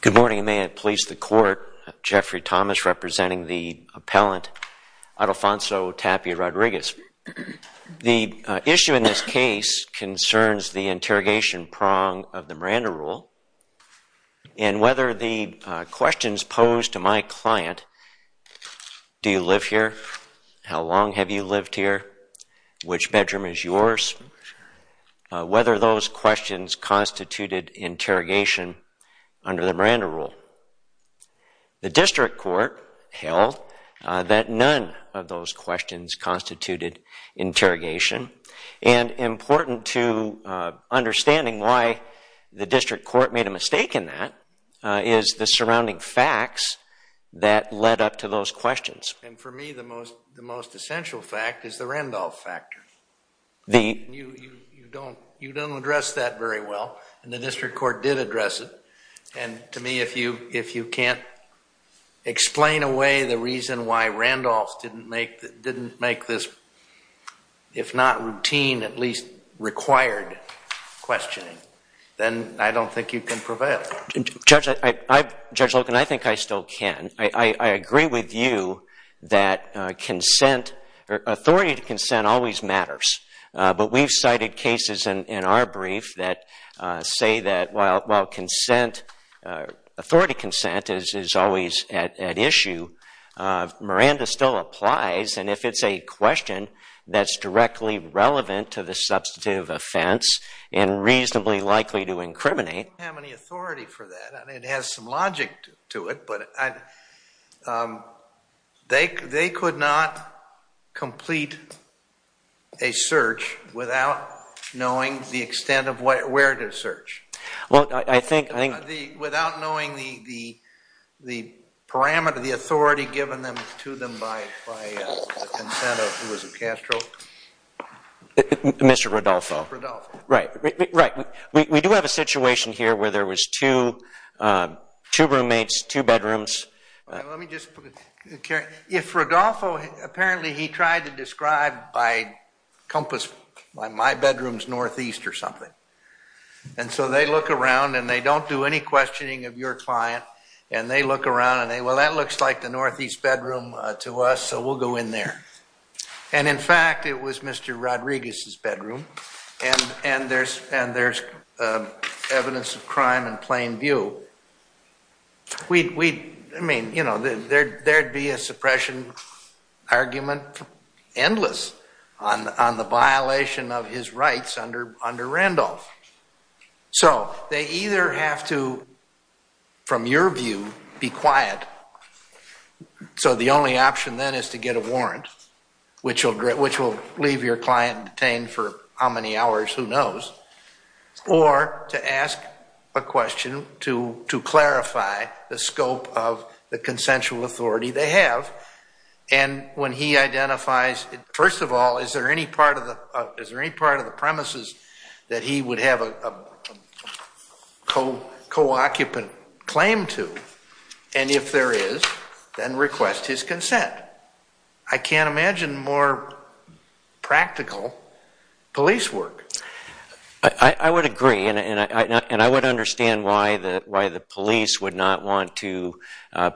Good morning and may it please the Court. Jeffrey Thomas representing the appellant Idelfonso Tapia-Rodriguez. The issue in this case concerns the interrogation prong of the Miranda Rule and whether the questions posed to my client, do you live here, how long have you lived here, which bedroom is yours, whether those questions constituted interrogation under the Miranda Rule. The District Court held that none of those questions constituted interrogation and important to understanding why the District Court made a mistake in that is the surrounding facts that led up to those questions. And for me the most essential fact is the Randolph factor. You don't address that very well and the District Court did address it and to me if you can't explain away the reason why Randolph didn't make this, if not routine, at least required questioning, then I don't think you can prevail. Judge Loken, I think I still can. I agree with you that consent, authority to consent always matters, but we've cited cases in our brief that say that while consent, authority consent is always at issue, Miranda still applies and if it's a question that's directly relevant to the substantive offense and reasonably likely to incriminate. I don't think we have any authority for that. It has some logic to it, but they could not complete a search without knowing the extent of where to search, without knowing the parameter, the authority given to them by the consent of who was it Castro? Mr. Rodolfo. Rodolfo. Right. We do have a situation here where there was two roommates, two bedrooms. Let me just, if Rodolfo, apparently he tried to describe by compass, my bedroom's northeast or something. And so they look around and they don't do any questioning of your client and they look around and they, well that looks like the northeast bedroom to us so we'll go in there. And in fact, it was Mr. Rodriguez's bedroom and there's evidence of crime in plain view. We'd, I mean, you know, there'd be a suppression argument endless on the violation of his rights under Randolph. So they either have to, from your view, be quiet so the only option then is to get a warrant, which will leave your client detained for how many hours, who knows, or to ask a question to clarify the scope of the consensual authority they have. And when he identifies, first of all, is there any part of the premises that he would have a co-occupant claim to? And if there is, then request his consent. I can't imagine more practical police work. I would agree and I would understand why the police would not want to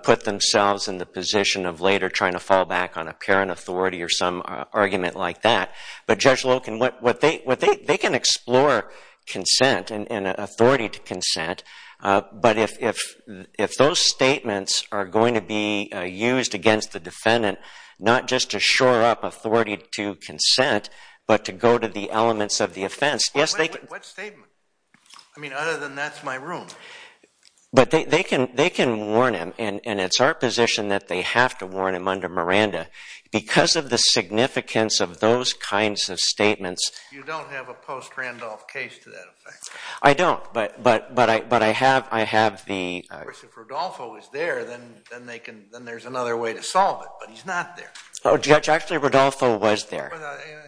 put themselves in the position of later trying to fall back on apparent authority or some argument like that. But Judge Loken, they can explore consent and authority to consent, but if those statements are going to be used against the defendant, not just to shore up authority to consent, but to go to the elements of the offense, yes, they can. What statement? I mean, other than that's my room. But they can warn him and it's our position that they have to warn him under Miranda because of the significance of those kinds of statements. You don't have a post-Randolph case to that effect? I don't, but I have the... Of course, if Rodolfo is there, then there's another way to solve it, but he's not there. Oh, Judge, actually, Rodolfo was there.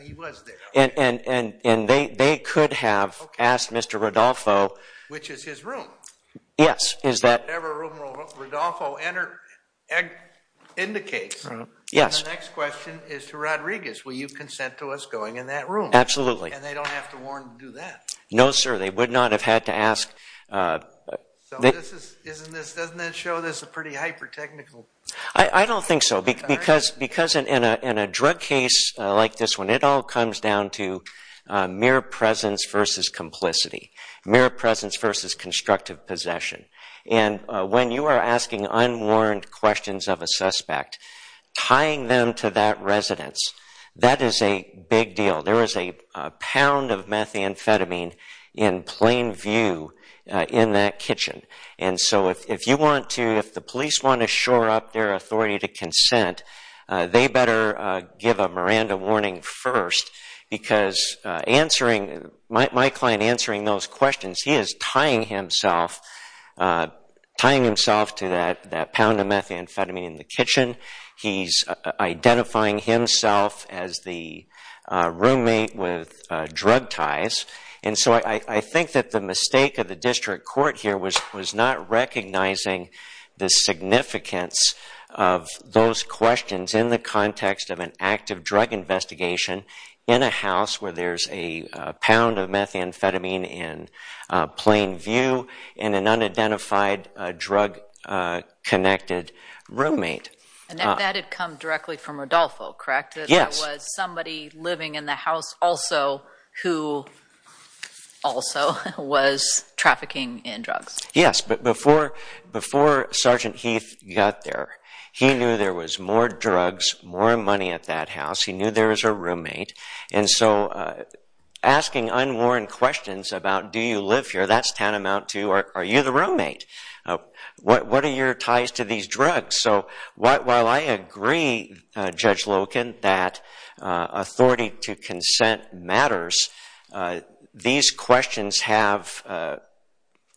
He was there. And they could have asked Mr. Rodolfo... Which is his room. Yes. Whatever room Rodolfo indicates. And the next question is to Rodriguez. Will you consent to us going in that room? Absolutely. And they don't have to warn to do that? No, sir, they would not have had to ask. So doesn't that show this is a pretty hyper-technical... I don't think so, because in a drug case like this one, it all comes down to mere presence versus complicity, mere presence versus constructive possession. And when you are asking unwarned questions of a suspect, tying them to that residence, that is a big deal. There is a pound of methamphetamine in plain view in that kitchen. And so if you want to... If the police want to shore up their authority to consent, they better give a Miranda warning first, because answering... My client answering those questions, he is tying himself to that pound of methamphetamine in the kitchen. He's identifying himself as the roommate with drug ties. And so I think that the mistake of the district court here was not recognizing the significance of those questions in the context of an active drug investigation in a house where there is a pound of methamphetamine in plain view and an unidentified drug-connected roommate. And that had come directly from Rodolfo, correct? Yes. That was somebody living in the house also who also was trafficking in drugs. Yes, but before Sergeant Heath got there, he knew there was more drugs, more money at that house. He knew there was a roommate. And so asking unworn questions about, do you live here? That's tantamount to, are you the roommate? What are your ties to these drugs? So while I agree, Judge Loken, that authority to consent matters, these questions have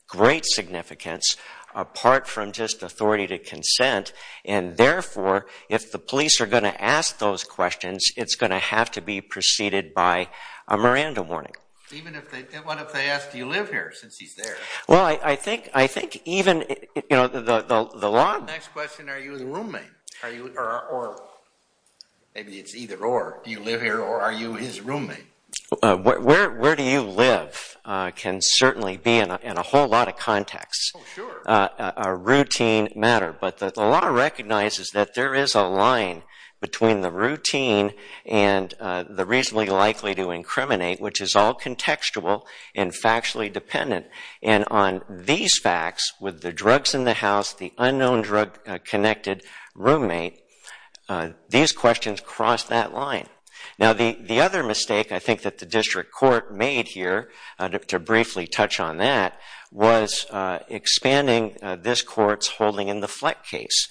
great significance apart from just authority to consent. And therefore, if the police are going to ask those questions, it's going to have to be preceded by a Miranda warning. Even if they ask, do you live here, since he's there? Well, I think even the law... Next question, are you the roommate? Or maybe it's either or. Do you live here or are you his roommate? Where do you live can certainly be, in a whole lot of contexts, a routine matter. But the law recognizes that there is a line between the routine and the reasonably likely to incriminate, which is all contextual and factually dependent. And on these facts, with the drugs in the house, the unknown drug-connected roommate, these questions cross that line. Now, the other mistake I think that the district court made here, to briefly touch on that, was expanding this court's holding in the Fleck case.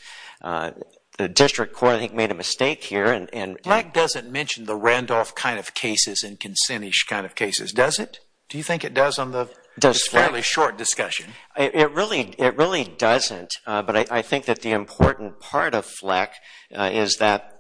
The district court, I think, made a mistake here. Fleck doesn't mention the Randolph kind of cases and consent-ish kind of cases, does it? Do you think it does on the fairly short discussion? It really doesn't. But I think that the important part of Fleck is that...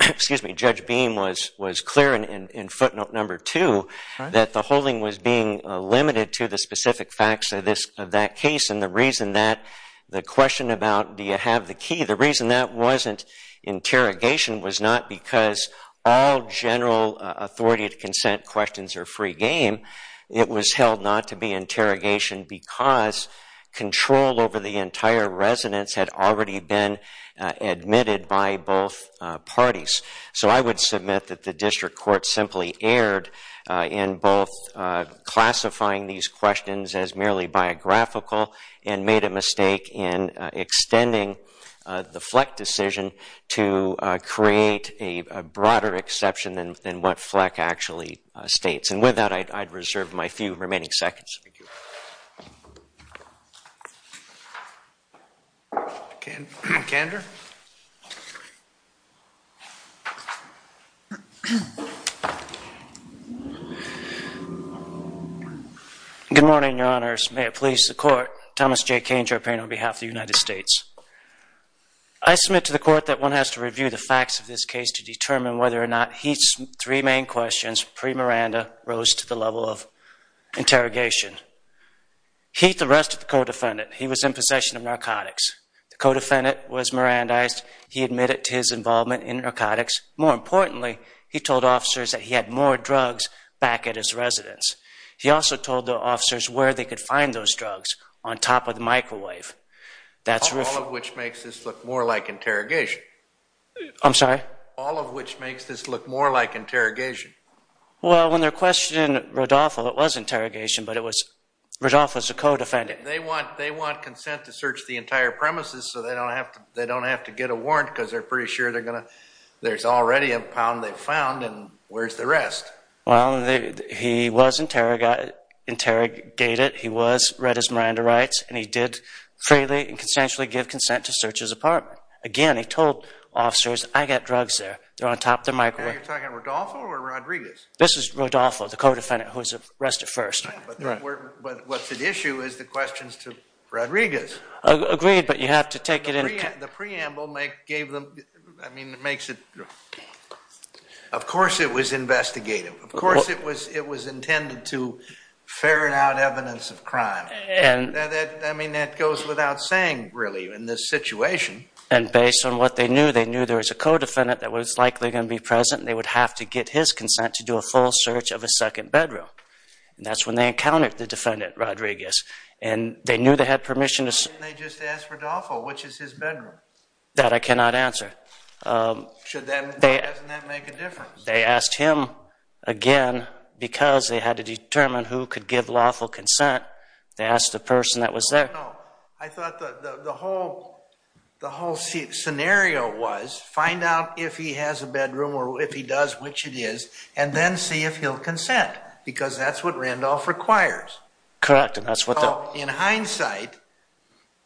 Excuse me, Judge Beam was clear in footnote number two that the holding was being limited to the specific facts of that case. And the reason that the question about, do you have the key, the reason that wasn't interrogation was not because all general authority to consent questions are free game. It was held not to be interrogation because control over the entire residence had already been admitted by both parties. So I would submit that the district court simply erred in both classifying these questions as merely biographical and made a mistake in extending the Fleck decision to create a broader exception than what Fleck actually states. And with that, I'd reserve my few remaining seconds. Good morning, Your Honors. May it please the Court. Thomas J. Kane, Jopain, on behalf of the United States. I submit to the Court that one has to review the facts of this case to determine whether or not Heath's three main questions, pre-Miranda, rose to the level of interrogation. Heath arrested the co-defendant. He was in possession of narcotics. The co-defendant was Mirandized. He admitted to his involvement in narcotics. More importantly, he told officers that he had more drugs back at his residence. He also told the officers where they could find those drugs, on top of the microwave. All of which makes this look more like interrogation. I'm sorry? All of which makes this look more like interrogation. Well, when they're questioning Rodolfo, it was interrogation, but Rodolfo is a co-defendant. They want consent to search the entire premises so they don't have to get a warrant because they're pretty sure there's already a pound they've found and where's the rest? Well, he was interrogated. He read his Miranda rights and he did freely and consensually give consent to search his apartment. Again, he told officers, I've got drugs there. They're on top of the microwave. Are you talking about Rodolfo or Rodriguez? This is Rodolfo, the co-defendant who was arrested first. But what's at issue is the questions to Rodriguez. Agreed, but you have to take it in... The preamble makes it... Of course it was investigative. Of course it was intended to ferret out evidence of crime. I mean, that goes without saying, really, in this situation. And based on what they knew, they knew there was a co-defendant that was likely going to be present and they would have to get his consent to do a full search of a second bedroom. And that's when they encountered the defendant, Rodriguez. And they knew they had permission to... Why didn't they just ask Rodolfo, which is his bedroom? That I cannot answer. Why doesn't that make a difference? They asked him again because they had to determine who could give lawful consent They asked the person that was there. I thought the whole scenario was find out if he has a bedroom or if he does, which it is and then see if he'll consent because that's what Randolph requires. Correct, and that's what the... In hindsight,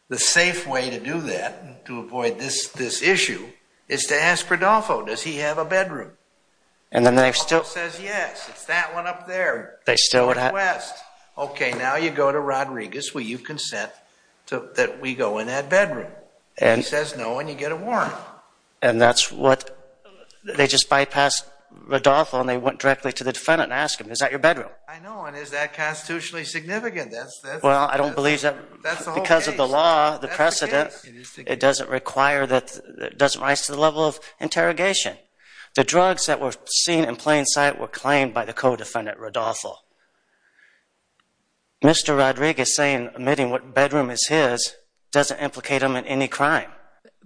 the safe way to do that to avoid this issue is to ask Rodolfo, does he have a bedroom? And then they still... Rodolfo says, yes, it's that one up there. They still would have... Okay, now you go to Rodriguez will you consent that we go in that bedroom? He says no, and you get a warrant. And that's what... They just bypassed Rodolfo and they went directly to the defendant and asked him is that your bedroom? I know, and is that constitutionally significant? Well, I don't believe that because of the law, the precedent it doesn't require that it doesn't rise to the level of interrogation. The drugs that were seen in plain sight were claimed by the co-defendant, Rodolfo. Mr. Rodriguez saying admitting what bedroom is his doesn't implicate him in any crime.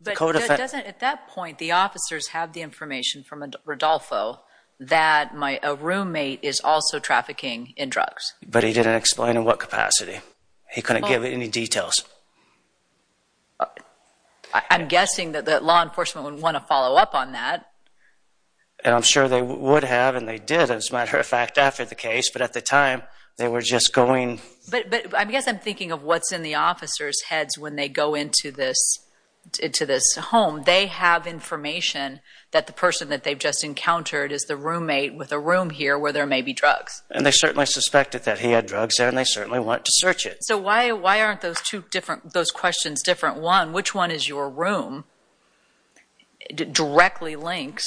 But doesn't at that point the officers have the information from Rodolfo that a roommate is also trafficking in drugs? But he didn't explain in what capacity. He couldn't give any details. I'm guessing that the law enforcement would want to follow up on that. And I'm sure they would have and they did as a matter of fact after the case, but at the time they were just going... But I guess I'm thinking of what's in the officers' heads when they go into this home. They have information that the person that they've just encountered is the roommate with a room here where there may be drugs. And they certainly suspected that he had drugs there and they certainly want to search it. So why aren't those questions different? One, which one is your room directly links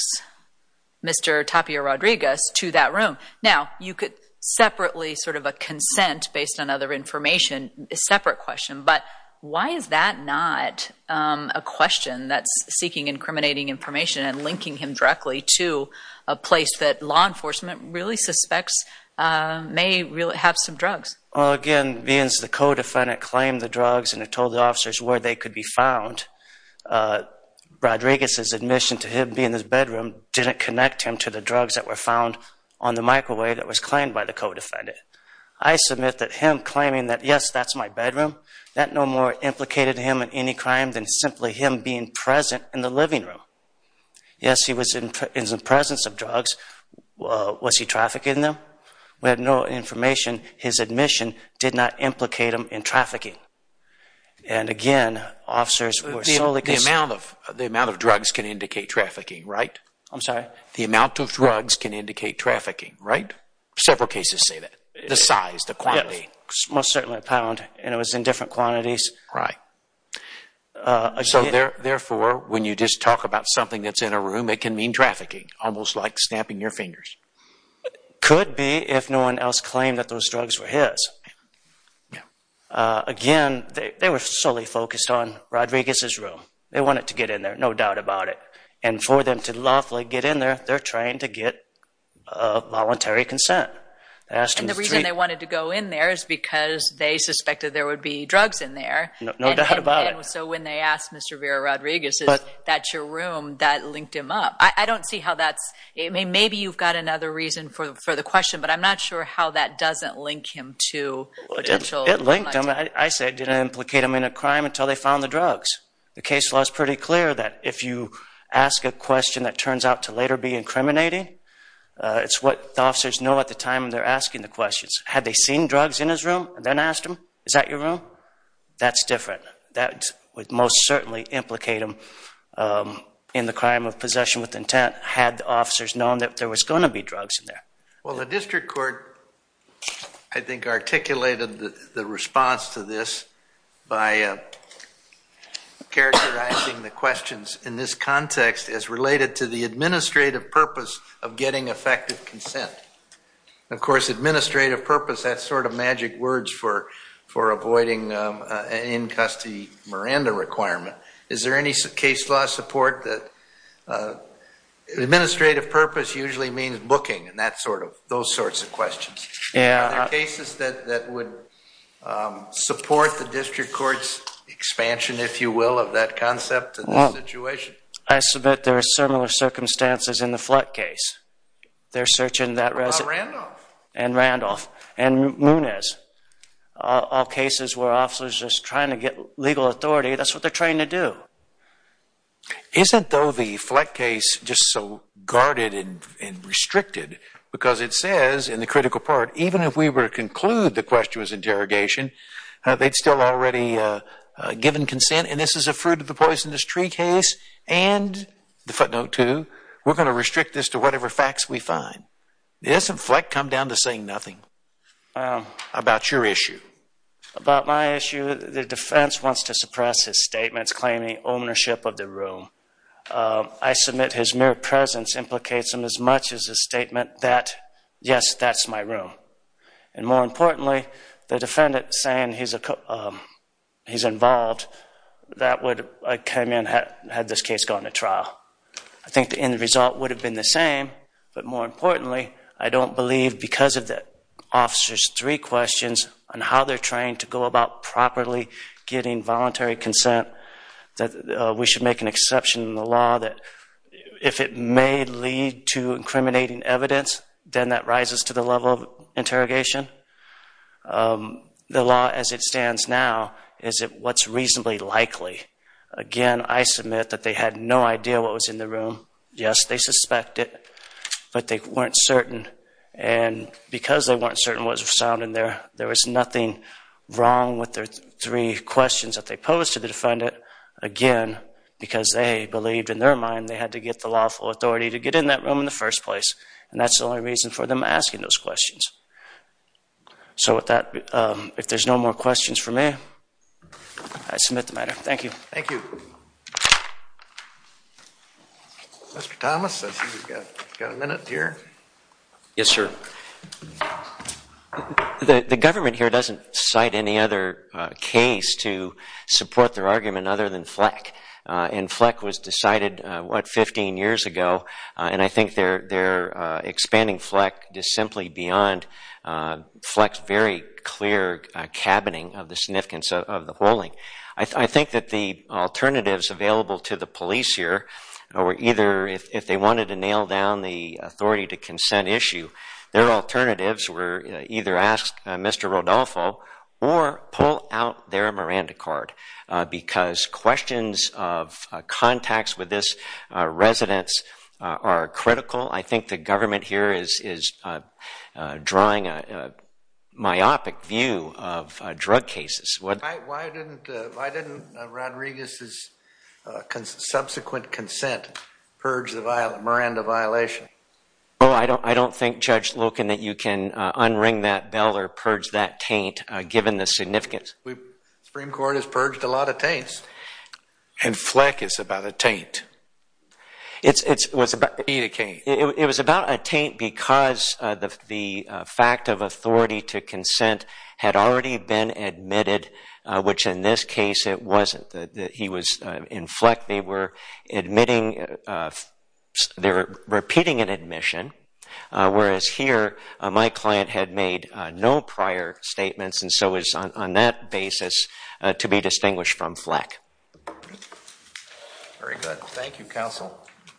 Mr. Tapia Rodriguez to that room? Now, you could separately sort of a consent based on other information is a separate question, but why is that not a question that's seeking incriminating information and linking him directly to a place that law enforcement really suspects may have some drugs? Again, the codefendant claimed the drugs and told the officers where they could be found. Rodriguez's admission to him being in his bedroom didn't connect him to the drugs that were found on the microwave that was claimed by the codefendant. I submit that him claiming that, yes, that's my bedroom that no more implicated him in any crime than simply him being present in the living room. Yes, he was in the presence of drugs. Was he trafficking them? We have no information his admission did not implicate him in trafficking. And again, officers... The amount of drugs can indicate trafficking, right? The amount of drugs can indicate trafficking, right? Several cases say that. The size, the quantity. Most certainly a pound and it was in different quantities. So therefore when you just talk about something that's in a room it can mean trafficking, almost like snapping your fingers. Could be if no one else claimed that those drugs were his. Again, they were solely focused on Rodriguez's room. They wanted to get in there, no doubt about it. And for them to lawfully get in there they're trying to get voluntary consent. And the reason they wanted to go in there is because they suspected there would be drugs in there. No doubt about it. So when they asked Mr. Vera Rodriguez that's your room, that linked him up. I don't see how that's... Maybe you've got another reason for the question but I'm not sure how that doesn't link him to potential... It linked him I say it didn't implicate him in a crime until they found the drugs. The case law is pretty clear that if you ask a question that turns out to later be incriminating it's what the officers know at the time they're asking the questions. Had they seen drugs in his room and then asked him, is that your room? That's different. That would most certainly implicate him in the crime of possession with intent had the officers known that there was going to be drugs in there. Well the district court I think articulated the response to this by characterizing the questions in this context as related to the administrative purpose of getting effective consent. Of course administrative purpose, that sort of magic words for avoiding in custody Miranda requirement is there any case law support that administrative purpose usually means booking and that sort of, those sorts of questions. Are there cases that would support the district court's expansion if you will of that concept situation? I submit there are similar circumstances in the Flett case they're searching that and Randolph and Munez all cases where officers are just trying to get legal authority, that's what they're trying to do. Isn't though the Flett case just so guarded and restricted because it says in the critical part even if we were to conclude the question was interrogation, they'd still already given consent and this is a fruit of the poisonous tree case and the footnote too we're going to restrict this to whatever facts we find. Doesn't Flett come down to saying nothing about your issue? About my issue, the defense wants to suppress his statements claiming ownership of the room. I submit his mere presence implicates him as much as his statement that yes, that's my room and more importantly the defendant saying he's involved that would come in had this case gone to trial. I think the end result would have been the same but more importantly I don't believe because of the officer's three questions on how they're trying to go about properly getting voluntary consent that we should make an exception in the law that if it may lead to incriminating evidence then that rises to the level of interrogation. The law as it stands now is what's reasonably likely. Again, I submit that they had no idea what was in the room yes, they suspected but they weren't certain and because they weren't certain what was found in there, there was nothing wrong with their three questions that they posed to the defendant. Again, because they believed in their time, they had to get the lawful authority to get in that room in the first place and that's the only reason for them asking those questions. So with that if there's no more questions for me I submit the matter. Thank you. Thank you. Mr. Thomas I see we've got a minute here. Yes sir. The government here doesn't cite any other case to support their argument other than Fleck and Fleck was decided what, 15 years ago and I think they're expanding Fleck just simply beyond Fleck's very clear cabining of the significance of the polling. I think that the alternatives available to the police here were either if they wanted to nail down the authority to consent issue, their alternatives were either ask Mr. Rodolfo or pull out their Miranda card because questions of contacts with this residence are critical. I think the government here is drawing a myopic view of drug cases. Why didn't Rodriguez's subsequent consent purge the Miranda violation? I don't think Judge Loken that you can unring that bell or purge that taint given the purged a lot of taints. And Fleck is about a taint. It was about a taint because the fact of authority to consent had already been admitted which in this case it wasn't. In Fleck they were admitting they were repeating an admission whereas here my client had made no prior statements and so is on that basis to be distinguished from Fleck. Thank you counsel.